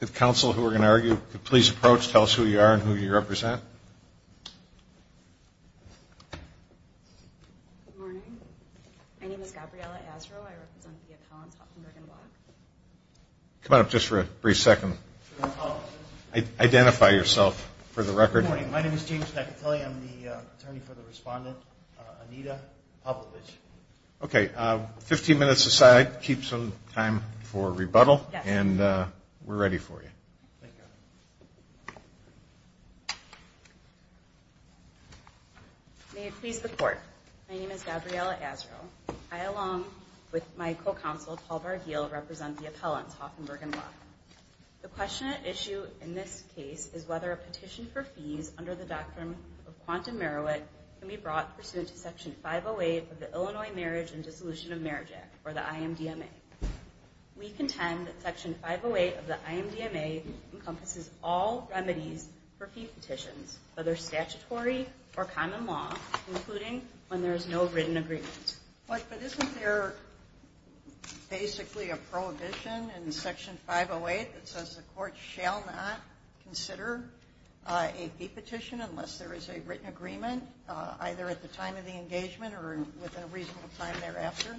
If counsel who are going to argue could please approach, tell us who you are and who you represent. Good morning. My name is Gabriela Asrow. I represent the Collins, Hoffman, Brigham and Women's Law. Come on up just for a brief second. Identify yourself for the record. Good morning. My name is James McIntyre. I represent the Collins, Hoffman, Brigham and Women's Law. Okay, 15 minutes aside, keep some time for rebuttal and we're ready for you. Thank you. May it please the court. My name is Gabriela Asrow. I, along with my co-counsel, Paul Bar-Gill, represent the Appellants, Hoffman, Brigham and Women's Law. The question at issue in this case is whether a petition for fees under the Doctrine of I am not a lawyer. I am not a lawyer. I am not a lawyer. I am not a lawyer. I am not a lawyer. Right. We condemn Petition 508 of the Illinois Marriage and Dissolution of Marriage Act, or the IMDMA. We contend that Section 508 of the IMDMA encompasses all remedies for fee petitions, whether statutory or common law, including when there is no written agreement. Right, but isn't there basically a prohibition in Section 508 that says the courts shall not consider a fee petition unless there is a written agreement, either at the time of the engagement or within a reasonable time thereafter?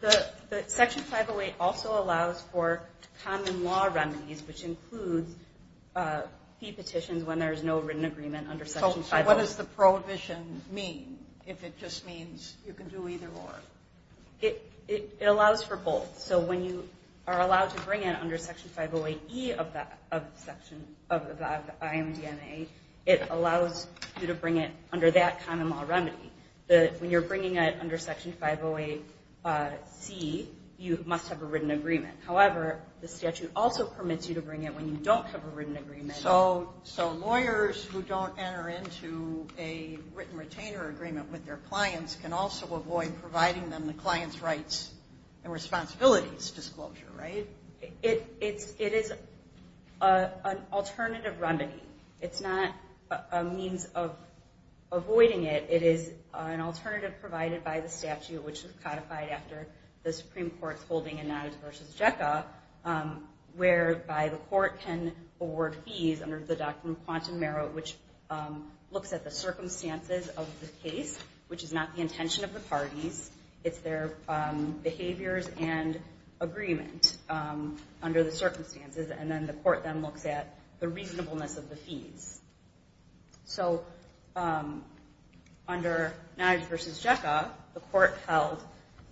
The Section 508 also allows for common law remedies, which includes fee petitions when there is no written agreement under Section 508. So what does the prohibition mean, if it just means you can do either or? It allows for both. So when you are allowed to bring it under Section 508E of the IMDMA, it allows you to bring it under Section 508C, you must have a written agreement. However, the statute also permits you to bring it when you don't have a written agreement. So lawyers who don't enter into a written retainer agreement with their clients can also avoid providing them the client's rights and responsibilities disclosure, right? It is an alternative remedy. It's not a means of avoiding it. It is an alternative provided by the statute, which is codified after the Supreme Court's holding in Nonadverses JECA, whereby the court can award fees under the Doctrine of Quantum Merit, which looks at the circumstances of the case, which is not the intention of the parties. It's their behaviors and agreement under the circumstances, and then the court then looks at the reasonableness of the fees. So under Nonadverses JECA, the court held,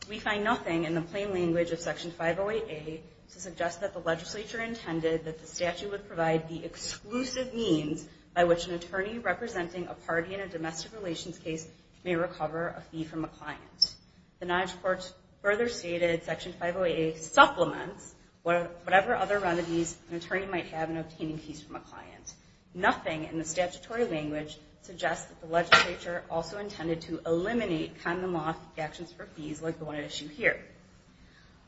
we find nothing in the plain language of Section 508A to suggest that the legislature intended that the statute would provide the exclusive means by which an attorney representing a party in a domestic relations case may recover a fee from a client. The Nonadverses Court further stated Section 508A supplements whatever other remedies an attorney might have in obtaining fees from a client. Nothing in the statutory language suggests that the legislature also intended to eliminate condom off actions for fees like the one at issue here.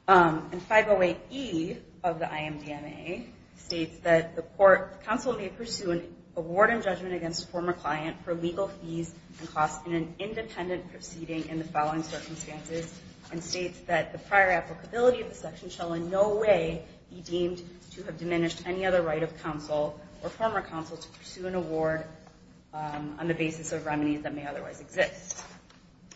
And 508E of the IMDMA states that the court, counsel may pursue an award and judgment against former client for legal fees and costs in an independent proceeding in the following circumstances, and states that the prior applicability of the section shall in no way be deemed to have diminished any other right of counsel or former counsel to pursue an award on the basis of remedies that may otherwise exist.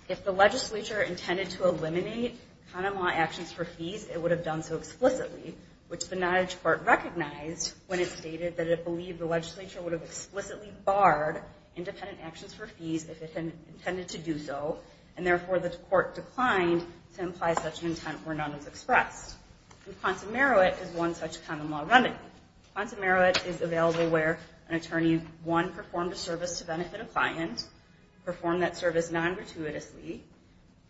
If the legislature intended to eliminate condom law actions for fees, it would have done so explicitly, which the Nonadverses Court recognized when it stated that it believed the legislature would have explicitly barred independent actions for fees if it had intended to do so, and therefore the court declined to imply such an intent where none was expressed. And quantum meruit is one such condom law remedy. Quantum meruit is available where an attorney, one, performed a service to benefit a client, performed that service non-gratuitously,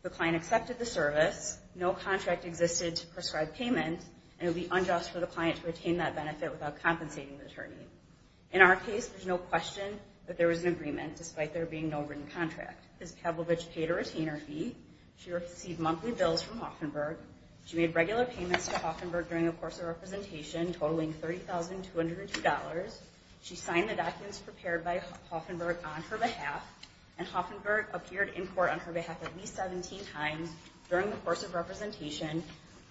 the client accepted the service, no contract existed to prescribe payment, and it would be unjust for the client to retain that benefit without compensating the attorney. In our case, there's no question that there was an agreement despite there being no written contract. Ms. Pavlovich paid a retainer fee, she received monthly bills from Haufenberg, she made regular payments to Haufenberg during a course of representation totaling $30,202, she signed the documents prepared by Haufenberg on her behalf, and Haufenberg appeared in court on her behalf at least 17 times during the course of representation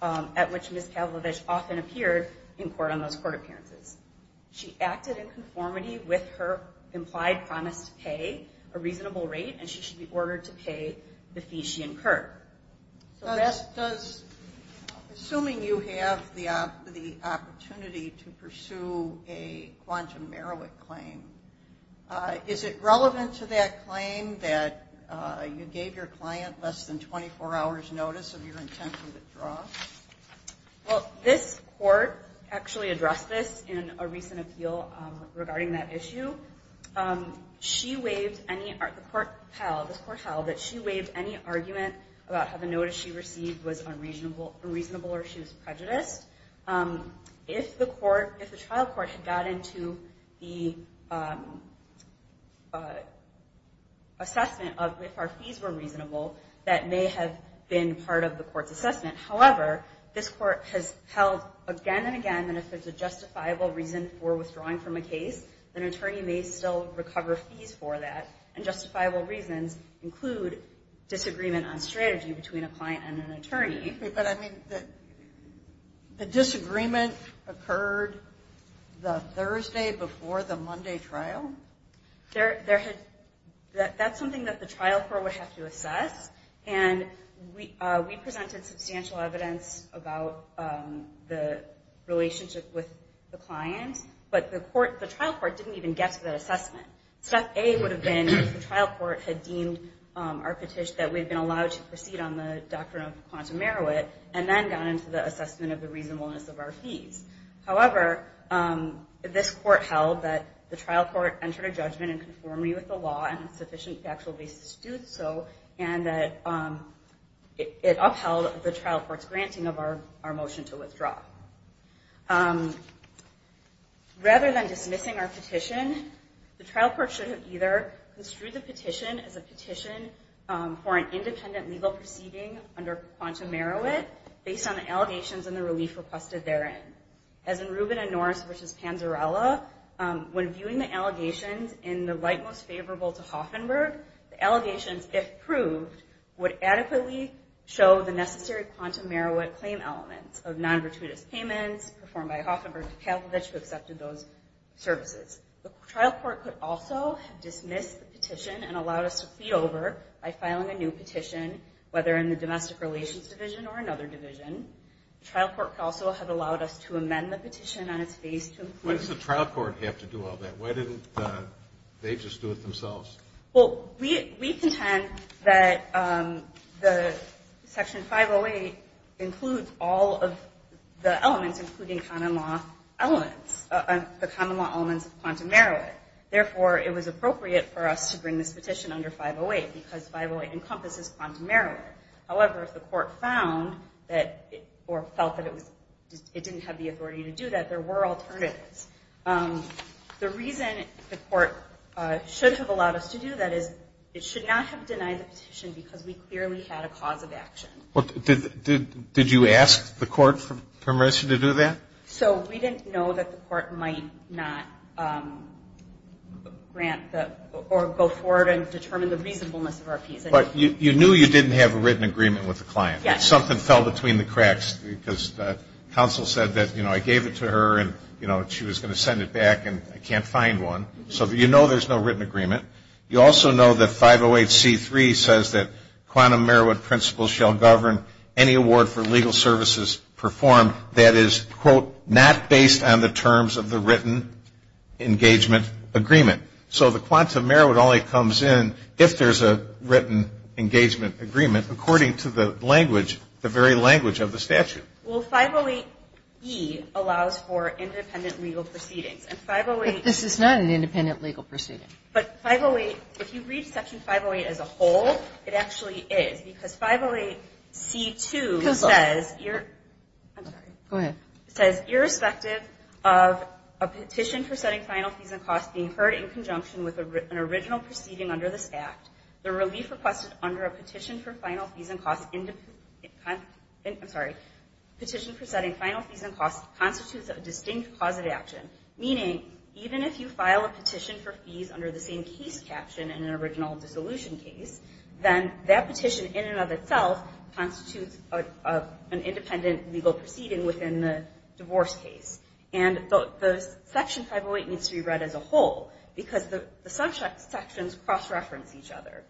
at which Ms. Pavlovich often appeared in court on those court appearances. She acted in conformity with her implied promise to pay a reasonable rate, and she should be ordered to pay the fees she incurred. So does, assuming you have the opportunity to pursue a quantum meruit claim, is it relevant to that claim that you gave your client less than 24 hours notice of your intention to withdraw? Well, this court actually addressed this in a recent appeal regarding that issue. She waived any, the court held, this court held that she waived any argument about how the notice she received was unreasonable or she was prejudiced. If the trial court had got into the assessment of if our fees were reasonable, that may have been part of the court's assessment. However, this court has held again and again that if there's a justifiable reason for withdrawing from a case, an attorney may still recover fees for that, and justifiable reasons include disagreement on strategy between a client and an attorney. But I mean, the disagreement occurred the Thursday before the Monday trial? There had, that's something that the trial court would have to assess, and we presented substantial evidence about the relationship with the client, but the trial court didn't even get to that assessment. Step A would have been if the trial court had deemed our petition that we had been allowed to proceed on the doctrine of quantum meruit, and then got into the assessment of the reasonableness of our fees. However, this court held that the trial court entered a judgment in conformity with the sufficient factual basis to do so, and that it upheld the trial court's granting of our motion to withdraw. Rather than dismissing our petition, the trial court should have either construed the petition as a petition for an independent legal proceeding under quantum meruit, based on the allegations and the relief requested therein. As in Rubin and Norris v. Panzarella, when viewing the allegations in the light most favorable to Hoffenberg, the allegations, if proved, would adequately show the necessary quantum meruit claim elements of non-virtuitous payments, performed by Hoffenberg to Kalkovich, who accepted those services. The trial court could also have dismissed the petition and allowed us to plead over by filing a new petition, whether in the domestic relations division or another division. The trial court could also have allowed us to amend the petition on its face to include Why does the trial court have to do all that? Why didn't they just do it themselves? Well, we contend that the section 508 includes all of the elements, including common law elements, the common law elements of quantum meruit. Therefore, it was appropriate for us to bring this petition under 508, because 508 encompasses quantum meruit. However, if the court found that, or felt that it didn't have the authority to do that, that there were alternatives, the reason the court should have allowed us to do that is it should not have denied the petition, because we clearly had a cause of action. Did you ask the court for permission to do that? So we didn't know that the court might not grant or go forward and determine the reasonableness of our piece. But you knew you didn't have a written agreement with the client. Yes. Something fell between the cracks, because counsel said that, you know, I gave it to her and she was going to send it back and I can't find one. So you know there's no written agreement. You also know that 508c3 says that quantum meruit principles shall govern any award for legal services performed that is, quote, not based on the terms of the written engagement agreement. So the quantum meruit only comes in if there's a written engagement agreement, according to the language, the very language of the statute. Well, 508e allows for independent legal proceedings. But this is not an independent legal proceeding. But 508, if you read section 508 as a whole, it actually is. Because 508c2 says, I'm sorry. Go ahead. It says, irrespective of a petition for setting final fees and costs being heard in conjunction with an original proceeding under this Act, the relief requested under a petition for setting final fees and costs constitutes a distinct cause of action. Meaning, even if you file a petition for fees under the same case caption in an original dissolution case, then that petition in and of itself constitutes an independent legal proceeding within the divorce case. And the section 508 needs to be read as a whole, because the subsections cross-reference each other.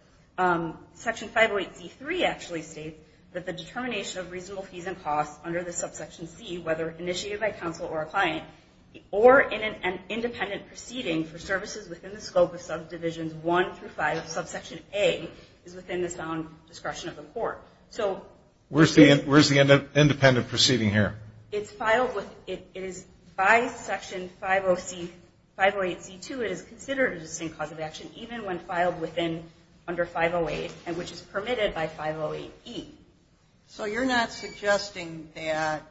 Section 508c3 actually states that the determination of reasonable fees and costs under the subsection C, whether initiated by counsel or a client, or in an independent proceeding for services within the scope of subdivisions 1 through 5 of subsection A, is within the sound discretion of the court. Where's the independent proceeding here? It is by section 508c2, it is considered a distinct cause of action, even when filed under 508, and which is permitted by 508e. So you're not suggesting that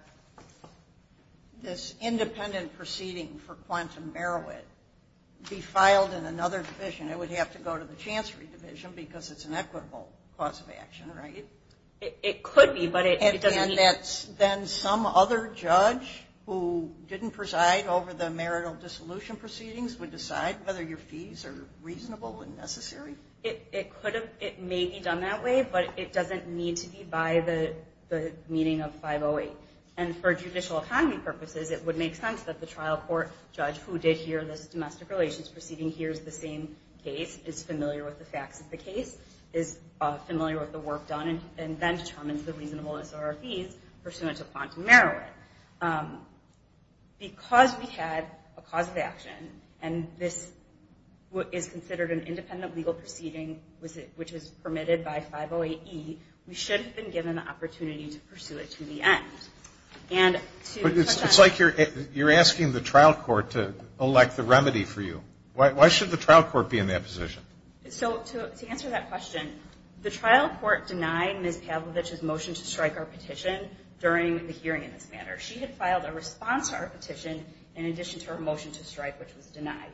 this independent proceeding for Quantum Merowit be filed in another division. It would have to go to the Chancery Division, because it's an equitable cause of action, right? It could be, but it doesn't need to. And then some other judge who didn't preside over the marital dissolution proceedings would decide whether your fees are reasonable and necessary? It may be done that way, but it doesn't need to be by the meeting of 508. And for judicial economy purposes, it would make sense that the trial court judge who did hear this domestic relations proceeding hears the same case, is familiar with the facts of the case, is familiar with the work done, and then determines the reasonableness of our fees pursuant to Quantum Merowit. Because we had a cause of action, and this is considered an independent legal proceeding, which is permitted by 508e, we should have been given the opportunity to pursue it to the end. But it's like you're asking the trial court to elect the remedy for you. Why should the trial court be in that position? So to answer that question, the trial court denied Ms. Pavlovich's motion to strike our petition during the hearing in this manner. She had filed a response to our petition in addition to her motion to strike, which was denied.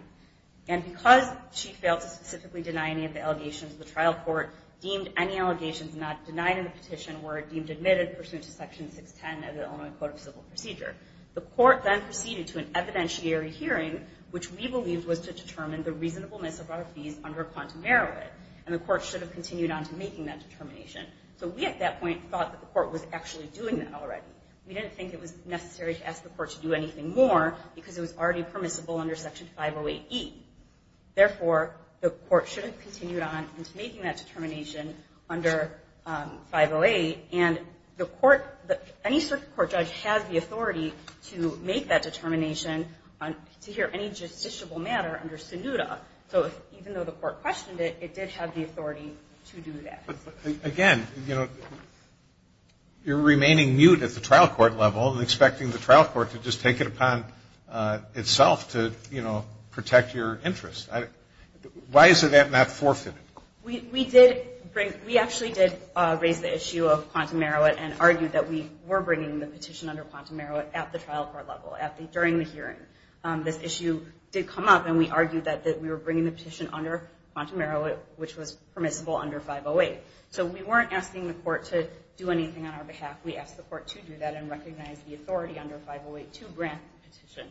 And because she failed to specifically deny any of the allegations, the trial court deemed any allegations not denied in the petition were deemed admitted pursuant to Section 610 of the Illinois Code of Civil Procedure. The court then proceeded to an evidentiary hearing, which we believed was to determine the reasonableness of our fees under Quantum Merowit. And the court should have continued on to making that determination. So we at that point thought that the court was actually doing that already. We didn't think it was necessary to ask the court to do anything more because it was already permissible under Section 508e. Therefore, the court should have continued on into making that determination under 508. And the court, any circuit court judge has the authority to make that determination to hear any justiciable matter under SINUDA. So even though the court questioned it, it did have the authority to do that. Again, you're remaining mute at the trial court level and expecting the trial court to just take it upon itself to protect your interest. Why is that not forfeited? We actually did raise the issue of Quantum Merowit and argued that we were bringing the petition under Quantum Merowit at the trial court level during the hearing. This issue did come up and we argued that we were bringing the petition under Quantum Merowit which was permissible under 508. So we weren't asking the court to do anything on our behalf, we asked the court to do that and recognize the authority under 508 to grant the petition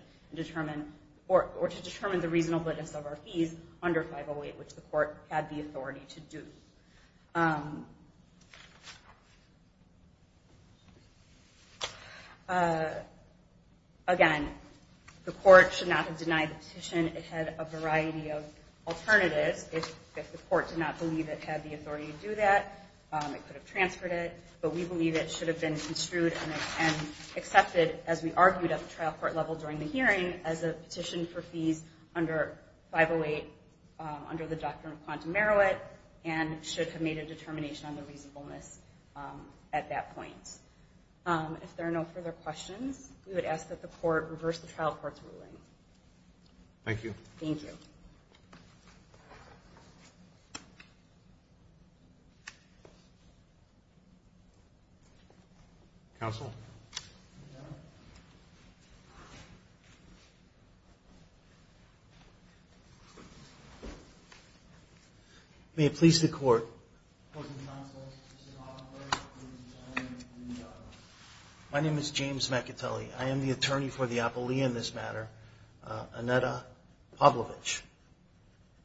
or to determine the reasonableness of our fees under 508 which the court had the authority to do. Again, the court should not have denied the petition. It had a variety of alternatives. If the court did not believe it had the authority to do that, it could have transferred it. But we believe it should have been construed and accepted as we argued at the trial court level during the hearing as a petition for fees under 508 under the doctrine of Quantum Merowit and should have made a determination on the reasonableness at that point. If there are no further questions, we would ask that the court reverse the trial court's ruling. Thank you. May it please the court. My name is James Macatelli. I am the attorney before the appellee in this matter, Annetta Pavlovich.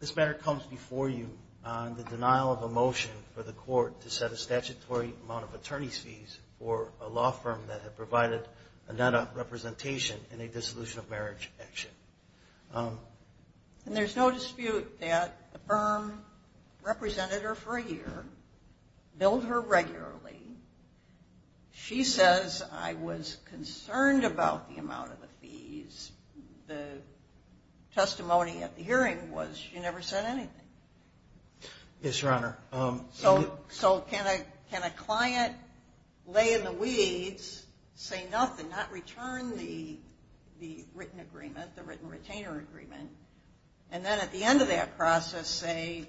This matter comes before you on the denial of a motion for the court to set a statutory amount of attorney's fees for a law firm that had provided Annetta representation in a dissolution of marriage action. There is no dispute that the firm represented her for a year, billed her regularly. She says I was concerned about the amount of the fees. The testimony at the hearing was she never said anything. Yes, Your Honor. So can a client lay in the weeds, say nothing, not return the written agreement, the written retainer agreement, and then at the end of that process say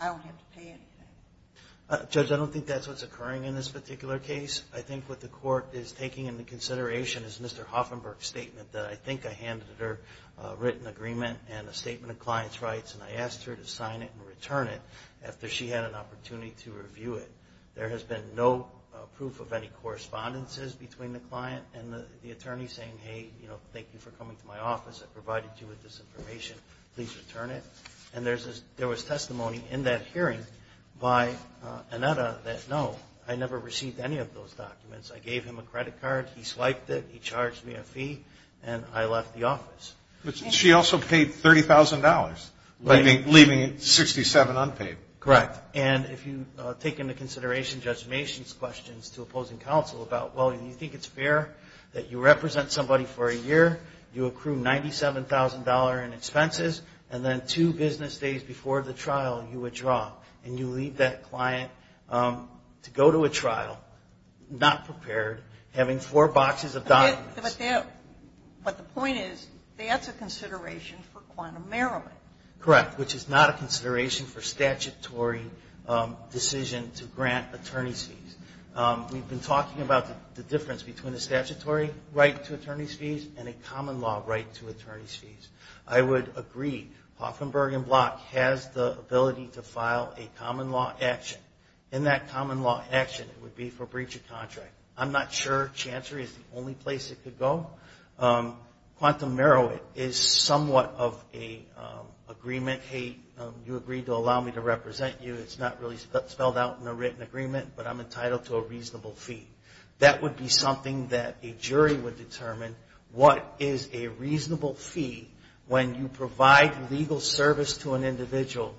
I don't have to pay anything? Judge, I don't think that's what's occurring in this particular case. I think what the court is taking into consideration is Mr. Hoffenberg's statement that I think I handed her a written agreement and a statement of client's rights and I asked her to sign it and return it after she had an opportunity to review it. There has been no proof of any correspondences between the client and the attorney saying, hey, thank you for coming to my office. I provided you with this information. Please return it. There was testimony in that hearing by Annetta that no, I never received any of those documents. I gave him a credit card, he swiped it, he charged me a fee, and I left the office. But she also paid $30,000, leaving $67,000 unpaid. Correct. And if you take into consideration Judge Mason's questions to opposing counsel about, well, do you think it's fair that you represent somebody for a year, you accrue $97,000 in expenses, and then two business days before the trial you withdraw and you leave that to go to a trial, not prepared, having four boxes of documents. But the point is, that's a consideration for quantum merriment. Correct, which is not a consideration for statutory decision to grant attorney's fees. We've been talking about the difference between a statutory right to attorney's fees and a common law right to attorney's fees. I would agree Hoffenberg and Block has the ability to file a common law action. And that common law action would be for breach of contract. I'm not sure Chancery is the only place it could go. Quantum merriment is somewhat of an agreement. Hey, you agreed to allow me to represent you. It's not really spelled out in a written agreement, but I'm entitled to a reasonable fee. That would be something that a jury would determine. What is a reasonable fee when you provide legal service to an individual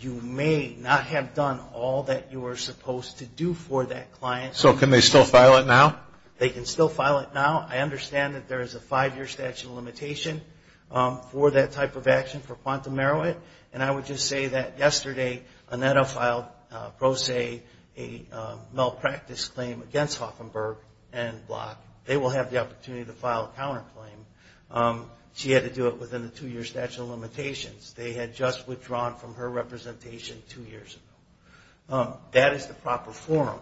you may not have done all that you were supposed to do for that client. So can they still file it now? They can still file it now. I understand that there is a five-year statute of limitation for that type of action for quantum merriment. And I would just say that yesterday Annetta filed pro se a malpractice claim against Hoffenberg and Block. They will have the opportunity to file a counterclaim. She had to do it within the two-year statute of limitations. They had just withdrawn from her representation two years ago. That is the proper forum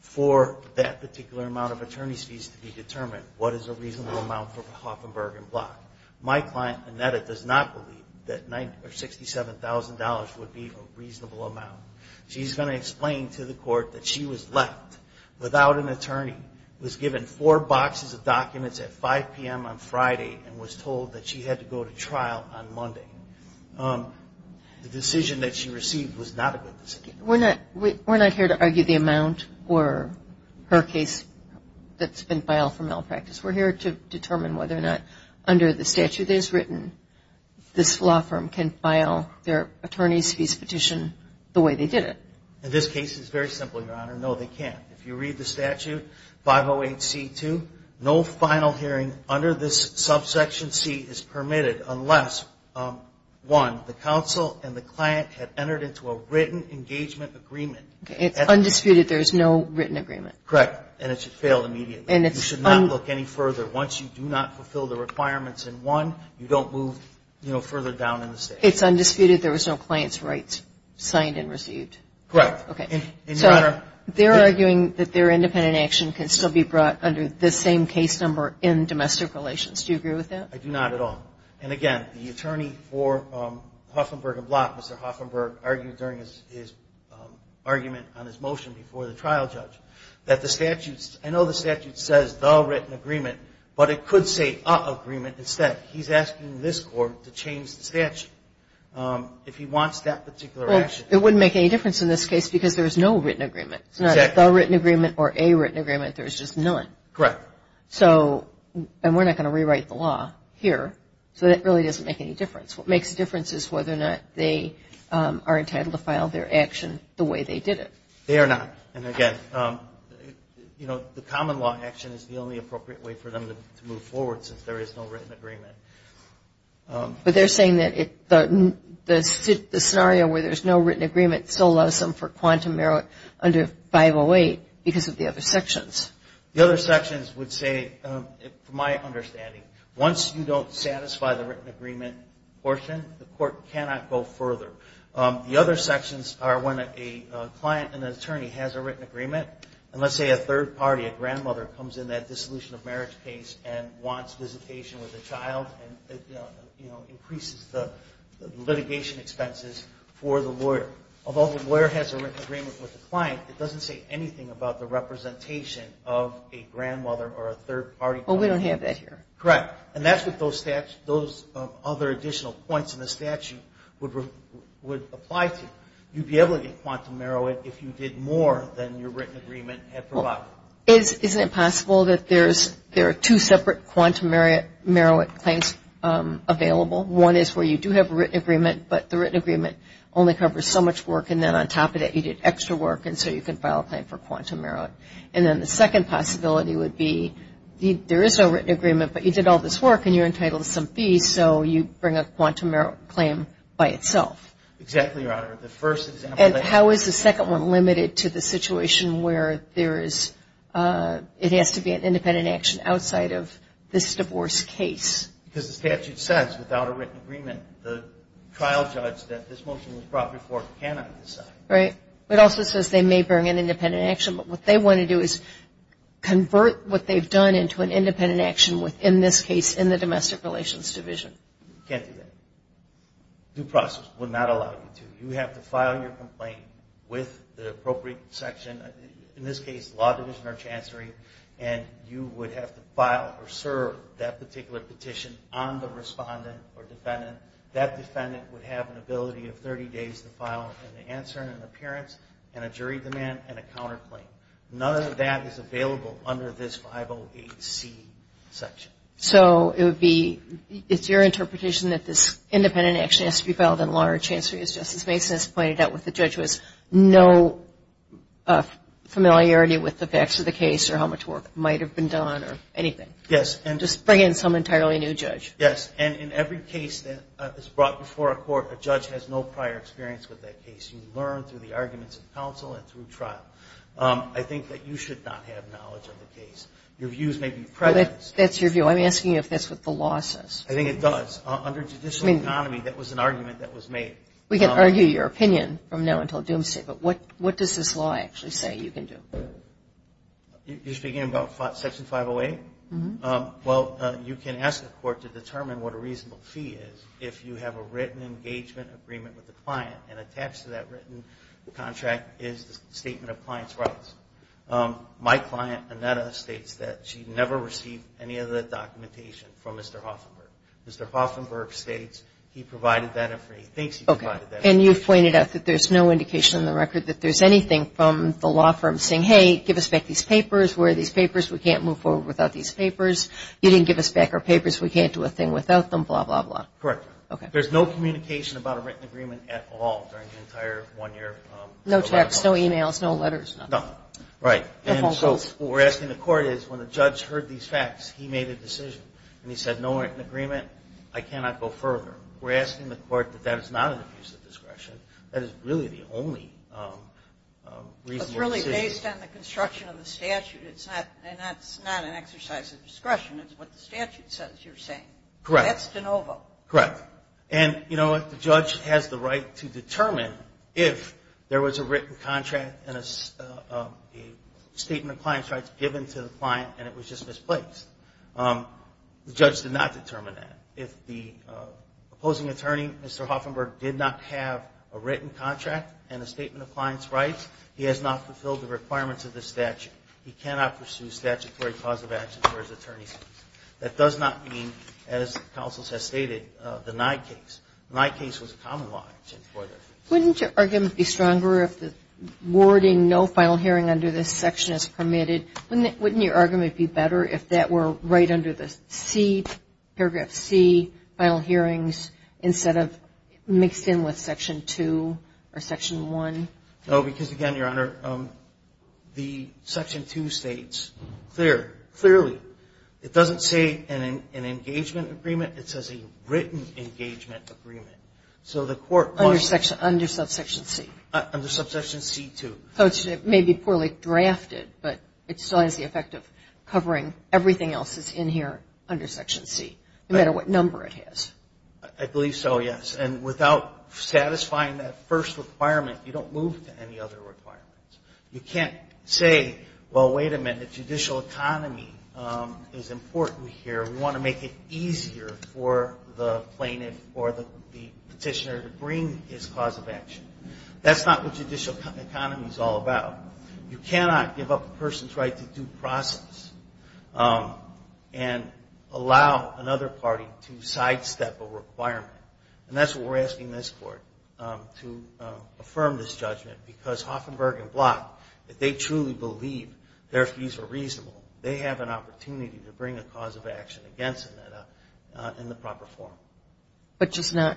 for that particular amount of attorney's fees to be determined. What is a reasonable amount for Hoffenberg and Block? My client, Annetta, does not believe that $67,000 would be a reasonable amount. She's going to explain to the court that she was left without an attorney, was given four boxes of documents at 5 p.m. on Friday, and was told that she had to go to trial on Monday. The decision that she received was not a good decision. We're not here to argue the amount for her case that's been filed for malpractice. We're here to determine whether or not, under the statute as written, this law firm can file their attorney's fees petition the way they did it. In this case, it's very simple, Your Honor. No, they can't. If you read the statute 508C2, no final hearing under this subsection C is permitted unless, one, the counsel and the client have entered into a written engagement agreement. It's undisputed there is no written agreement? Correct. And it should fail immediately. You should not look any further. Once you do not fulfill the requirements in one, you don't move further down in the state. It's undisputed there was no client's rights signed and received? Correct. Okay. So, they're arguing that their independent action can still be brought under this same case number in domestic relations. Do you agree with that? I do not at all. And, again, the attorney for Hoffenberg and Block, Mr. Hoffenberg, argued during his argument on his motion before the trial judge that the statute's – I know the statute says the written agreement, but it could say a agreement instead. He's asking this Court to change the statute if he wants that particular action. Well, it wouldn't make any difference in this case because there's no written agreement. It's not a the written agreement or a written agreement. There's just none. Correct. So, and we're not going to rewrite the law here, so that really doesn't make any difference. What makes a difference is whether or not they are entitled to file their action the way they did it. They are not. And, again, you know, the common law action is the only appropriate way for them to move forward since there is no written agreement. But they're saying that the scenario where there's no written agreement still allows them for quantum merit under 508 because of the other sections. The other sections would say, from my understanding, once you don't satisfy the written agreement portion, the Court cannot go further. The other sections are when a client, an attorney, has a written agreement, and let's say a third party, a grandmother, comes in that dissolution of marriage case and wants visitation with a child and, you know, increases the litigation expenses for the lawyer. Although the lawyer has a written agreement with the client, it doesn't say anything about the representation of a grandmother or a third party. Well, we don't have that here. Correct. And that's what those other additional points in the statute would apply to. You'd be able to get quantum merit if you did more than your written agreement had provided. Isn't it possible that there's two separate quantum merit claims available? One is where you do have a written agreement, but the written agreement only covers so much work, and then on top of that, you did extra work, and so you can file a claim for quantum merit. And then the second possibility would be, there is a written agreement, but you did all this work, and you're entitled to some fees, so you bring a quantum merit claim by itself. Exactly, Your Honor. And how is the second one limited to the situation where there is it has to be an independent action outside of this divorce case? Because the statute says, without a written agreement, the court cannot decide. Right. It also says they may bring an independent action, but what they want to do is convert what they've done into an independent action within this case in the Domestic Relations Division. You can't do that. Due process would not allow you to. You have to file your complaint with the appropriate section, in this case, the Law Division or Chancery, and you would have to file or serve that particular petition on the respondent or defendant. That defendant would have an ability of 30 days to file an answer and an appearance and a jury demand and a counterclaim. None of that is available under this 508C section. So it would be it's your interpretation that this independent action has to be filed in law or chancery as Justice Mason has pointed out with the judge was no familiarity with the facts of the case or how much work might have been done or anything. Yes. Just bring in some entirely new judge. Yes, and in every case that is brought before a court, a judge has no prior experience with that case. You learn through the arguments of counsel and through trial. I think that you should not have knowledge of the case. Your views may be prejudiced. That's your view. I'm asking you if that's what the law says. I think it does. Under judicial economy, that was an argument that was made. We can argue your opinion from now until doomsday, but what does this law actually say you can do? You're speaking about Section 508? Well, you can ask the court to determine what a reasonable fee is if you have a written engagement agreement with the client, and attached to that written contract is the statement of client's rights. My client, Annetta, states that she never received any of the documentation from Mr. Hoffenberg. Mr. Hoffenberg states he provided that information. He thinks he provided that information. And you've pointed out that there's no indication in the record that there's anything from the law firm saying, hey, give us back these papers. Where are these papers? We can't move forward without these papers. You didn't give us back our papers. We can't do a thing without them, blah, blah, blah. Correct. There's no communication about a written agreement at all during the entire one year. No texts, no e-mails, no letters, nothing. Right. And so what we're asking the court is, when the judge heard these facts, he made a decision. And he said, no written agreement. I cannot go further. We're asking the court that that is not an abuse of discretion. That is really the only reasonable decision. It's really based on the construction of the statute. And that's not an exercise of discretion. It's what the statute says you're saying. Correct. That's de novo. Correct. And you know what? The judge has the right to determine if there was a written contract and a statement of client's rights given to the client and it was just misplaced. The judge did not determine that. If the opposing attorney, Mr. Hoffenberg, did not have a written contract and a statement of client's rights, he has not fulfilled the requirements of the statute. He cannot pursue statutory cause of action for his attorney's case. That does not mean, as counsel has stated, the Nye case. The Nye case was a common law. Wouldn't your argument be stronger if the wording no final hearing under this section is permitted? Wouldn't your argument be better if that were right under paragraph C, final hearings, instead of mixed in with section 2 or section 1? No, because again, Your Honor, the section 2 states clearly, it doesn't say an engagement agreement. It says a written engagement agreement. Under subsection C. Under subsection C2. So it may be poorly drafted, but it still has the effect of covering everything else that's in here under section C, no matter what number it has. I believe so, yes. And without satisfying that first requirement, you don't move to any other requirements. You can't say, well, wait a minute, judicial economy is important here. We want to make it easier for the plaintiff or the petitioner to bring his cause of action. That's not what judicial economy is all about. You cannot give up a person's right to due process and allow another party to sidestep a requirement. And that's what we're asking this Court to affirm this judgment, because Hoffenberg and Block, if they truly believe their fees are reasonable, they have an opportunity to bring a cause of action against them in the proper form. But just not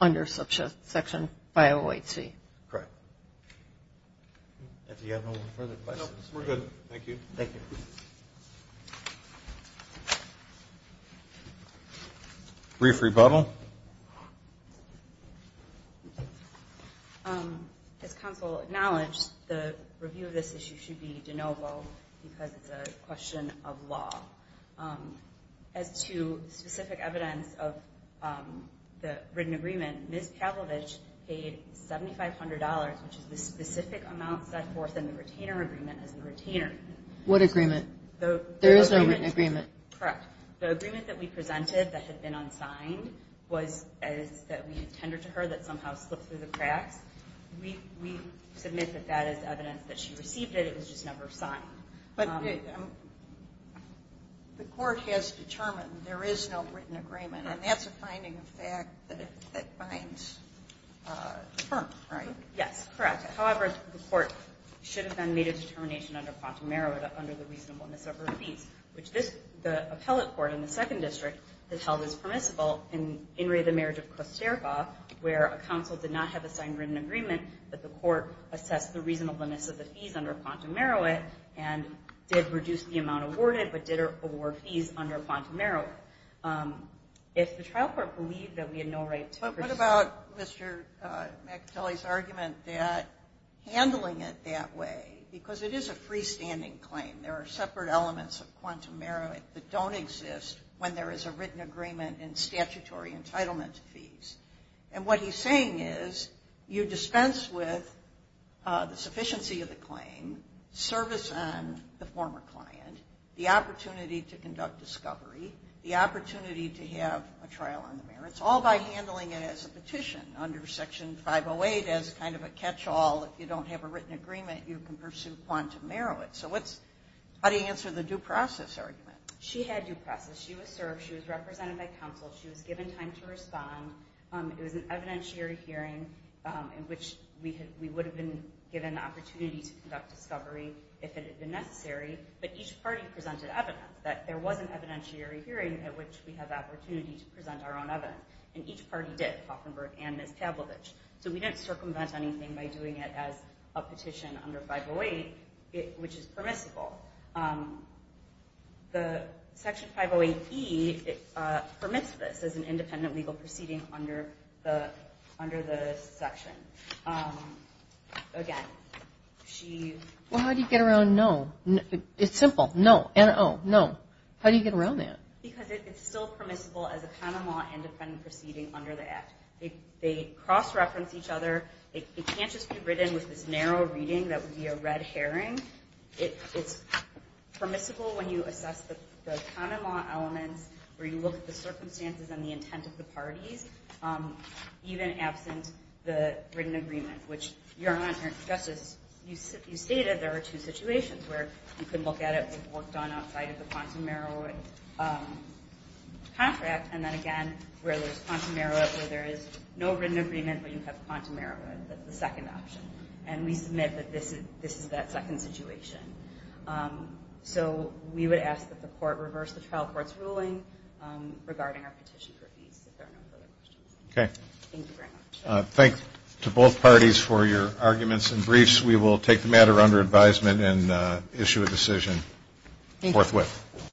under subsection 508C. Correct. If you have no further questions. No, we're good. Thank you. Thank you. Brief rebuttal. As counsel acknowledged, the review of this issue should be de novo because it's a question of law. As to specific evidence of the written agreement, Ms. Pavlovich paid $7,500, which is the specific amount set forth in the retainer. What agreement? There is no written agreement. The agreement that we presented that had been unsigned was that we had tendered to her that somehow slipped through the cracks. We submit that that is evidence that she received it. It was just never signed. The Court has determined there is no written agreement, and that's a finding of fact that should have been made a determination under quantum merit under the reasonableness of her fees, which the appellate court in the Second District has held as permissible in In Re of the Marriage of Kosterba, where a counsel did not have a signed written agreement that the Court assessed the reasonableness of the fees under quantum merit and did reduce the amount awarded, but did award fees under quantum merit. If the trial court believed that we had no right to proceed. But what about Mr. McAtelly's argument that handling it that way, because it is a freestanding claim. There are separate elements of quantum merit that don't exist when there is a written agreement in statutory entitlement fees. And what he's saying is you dispense with the sufficiency of the claim, service on the former client, the opportunity to conduct discovery, the opportunity to have a trial on the merits, all by handling it as a petition under Section 508 as kind of a catch-all. If you don't have a written agreement, you can pursue quantum merit. So how do you answer the due process argument? She had due process. She was served. She was represented by counsel. She was given time to respond. It was an evidentiary hearing in which we would have been given the opportunity to conduct discovery if it had been necessary, but each party presented evidence that there was an evidentiary hearing at which we have the opportunity to present our own evidence. And each party did, Koffenberg and Ms. Tablovich. So we didn't circumvent anything by doing it as a petition under 508, which is permissible. The Section 508 E permits this as an independent legal proceeding under the section. Again, she... Well, how do you get around no? It's simple. No. N-O. No. How do you get around that? Because it's still permissible as a common law independent proceeding under the Act. They cross-reference each other. It can't just be written with this narrow reading that would be a red herring. It's permissible when you assess the common law elements, where you look at the circumstances and the intent of the parties, even absent the written agreement, which, Your Honor, just as you stated, there are two situations where you can look at it. We've worked on outside of the quantum merit contract, and then again, where there's quantum merit, where there is no written agreement, but you have quantum merit. That's the second option. And we submit that this is that second situation. So we would ask that the Court reverse the trial court's ruling regarding our petition for appease, if there are no further questions. Thank you very much. Thank you to both parties for your arguments and briefs. We will take the matter under advisement and issue a decision forthwith.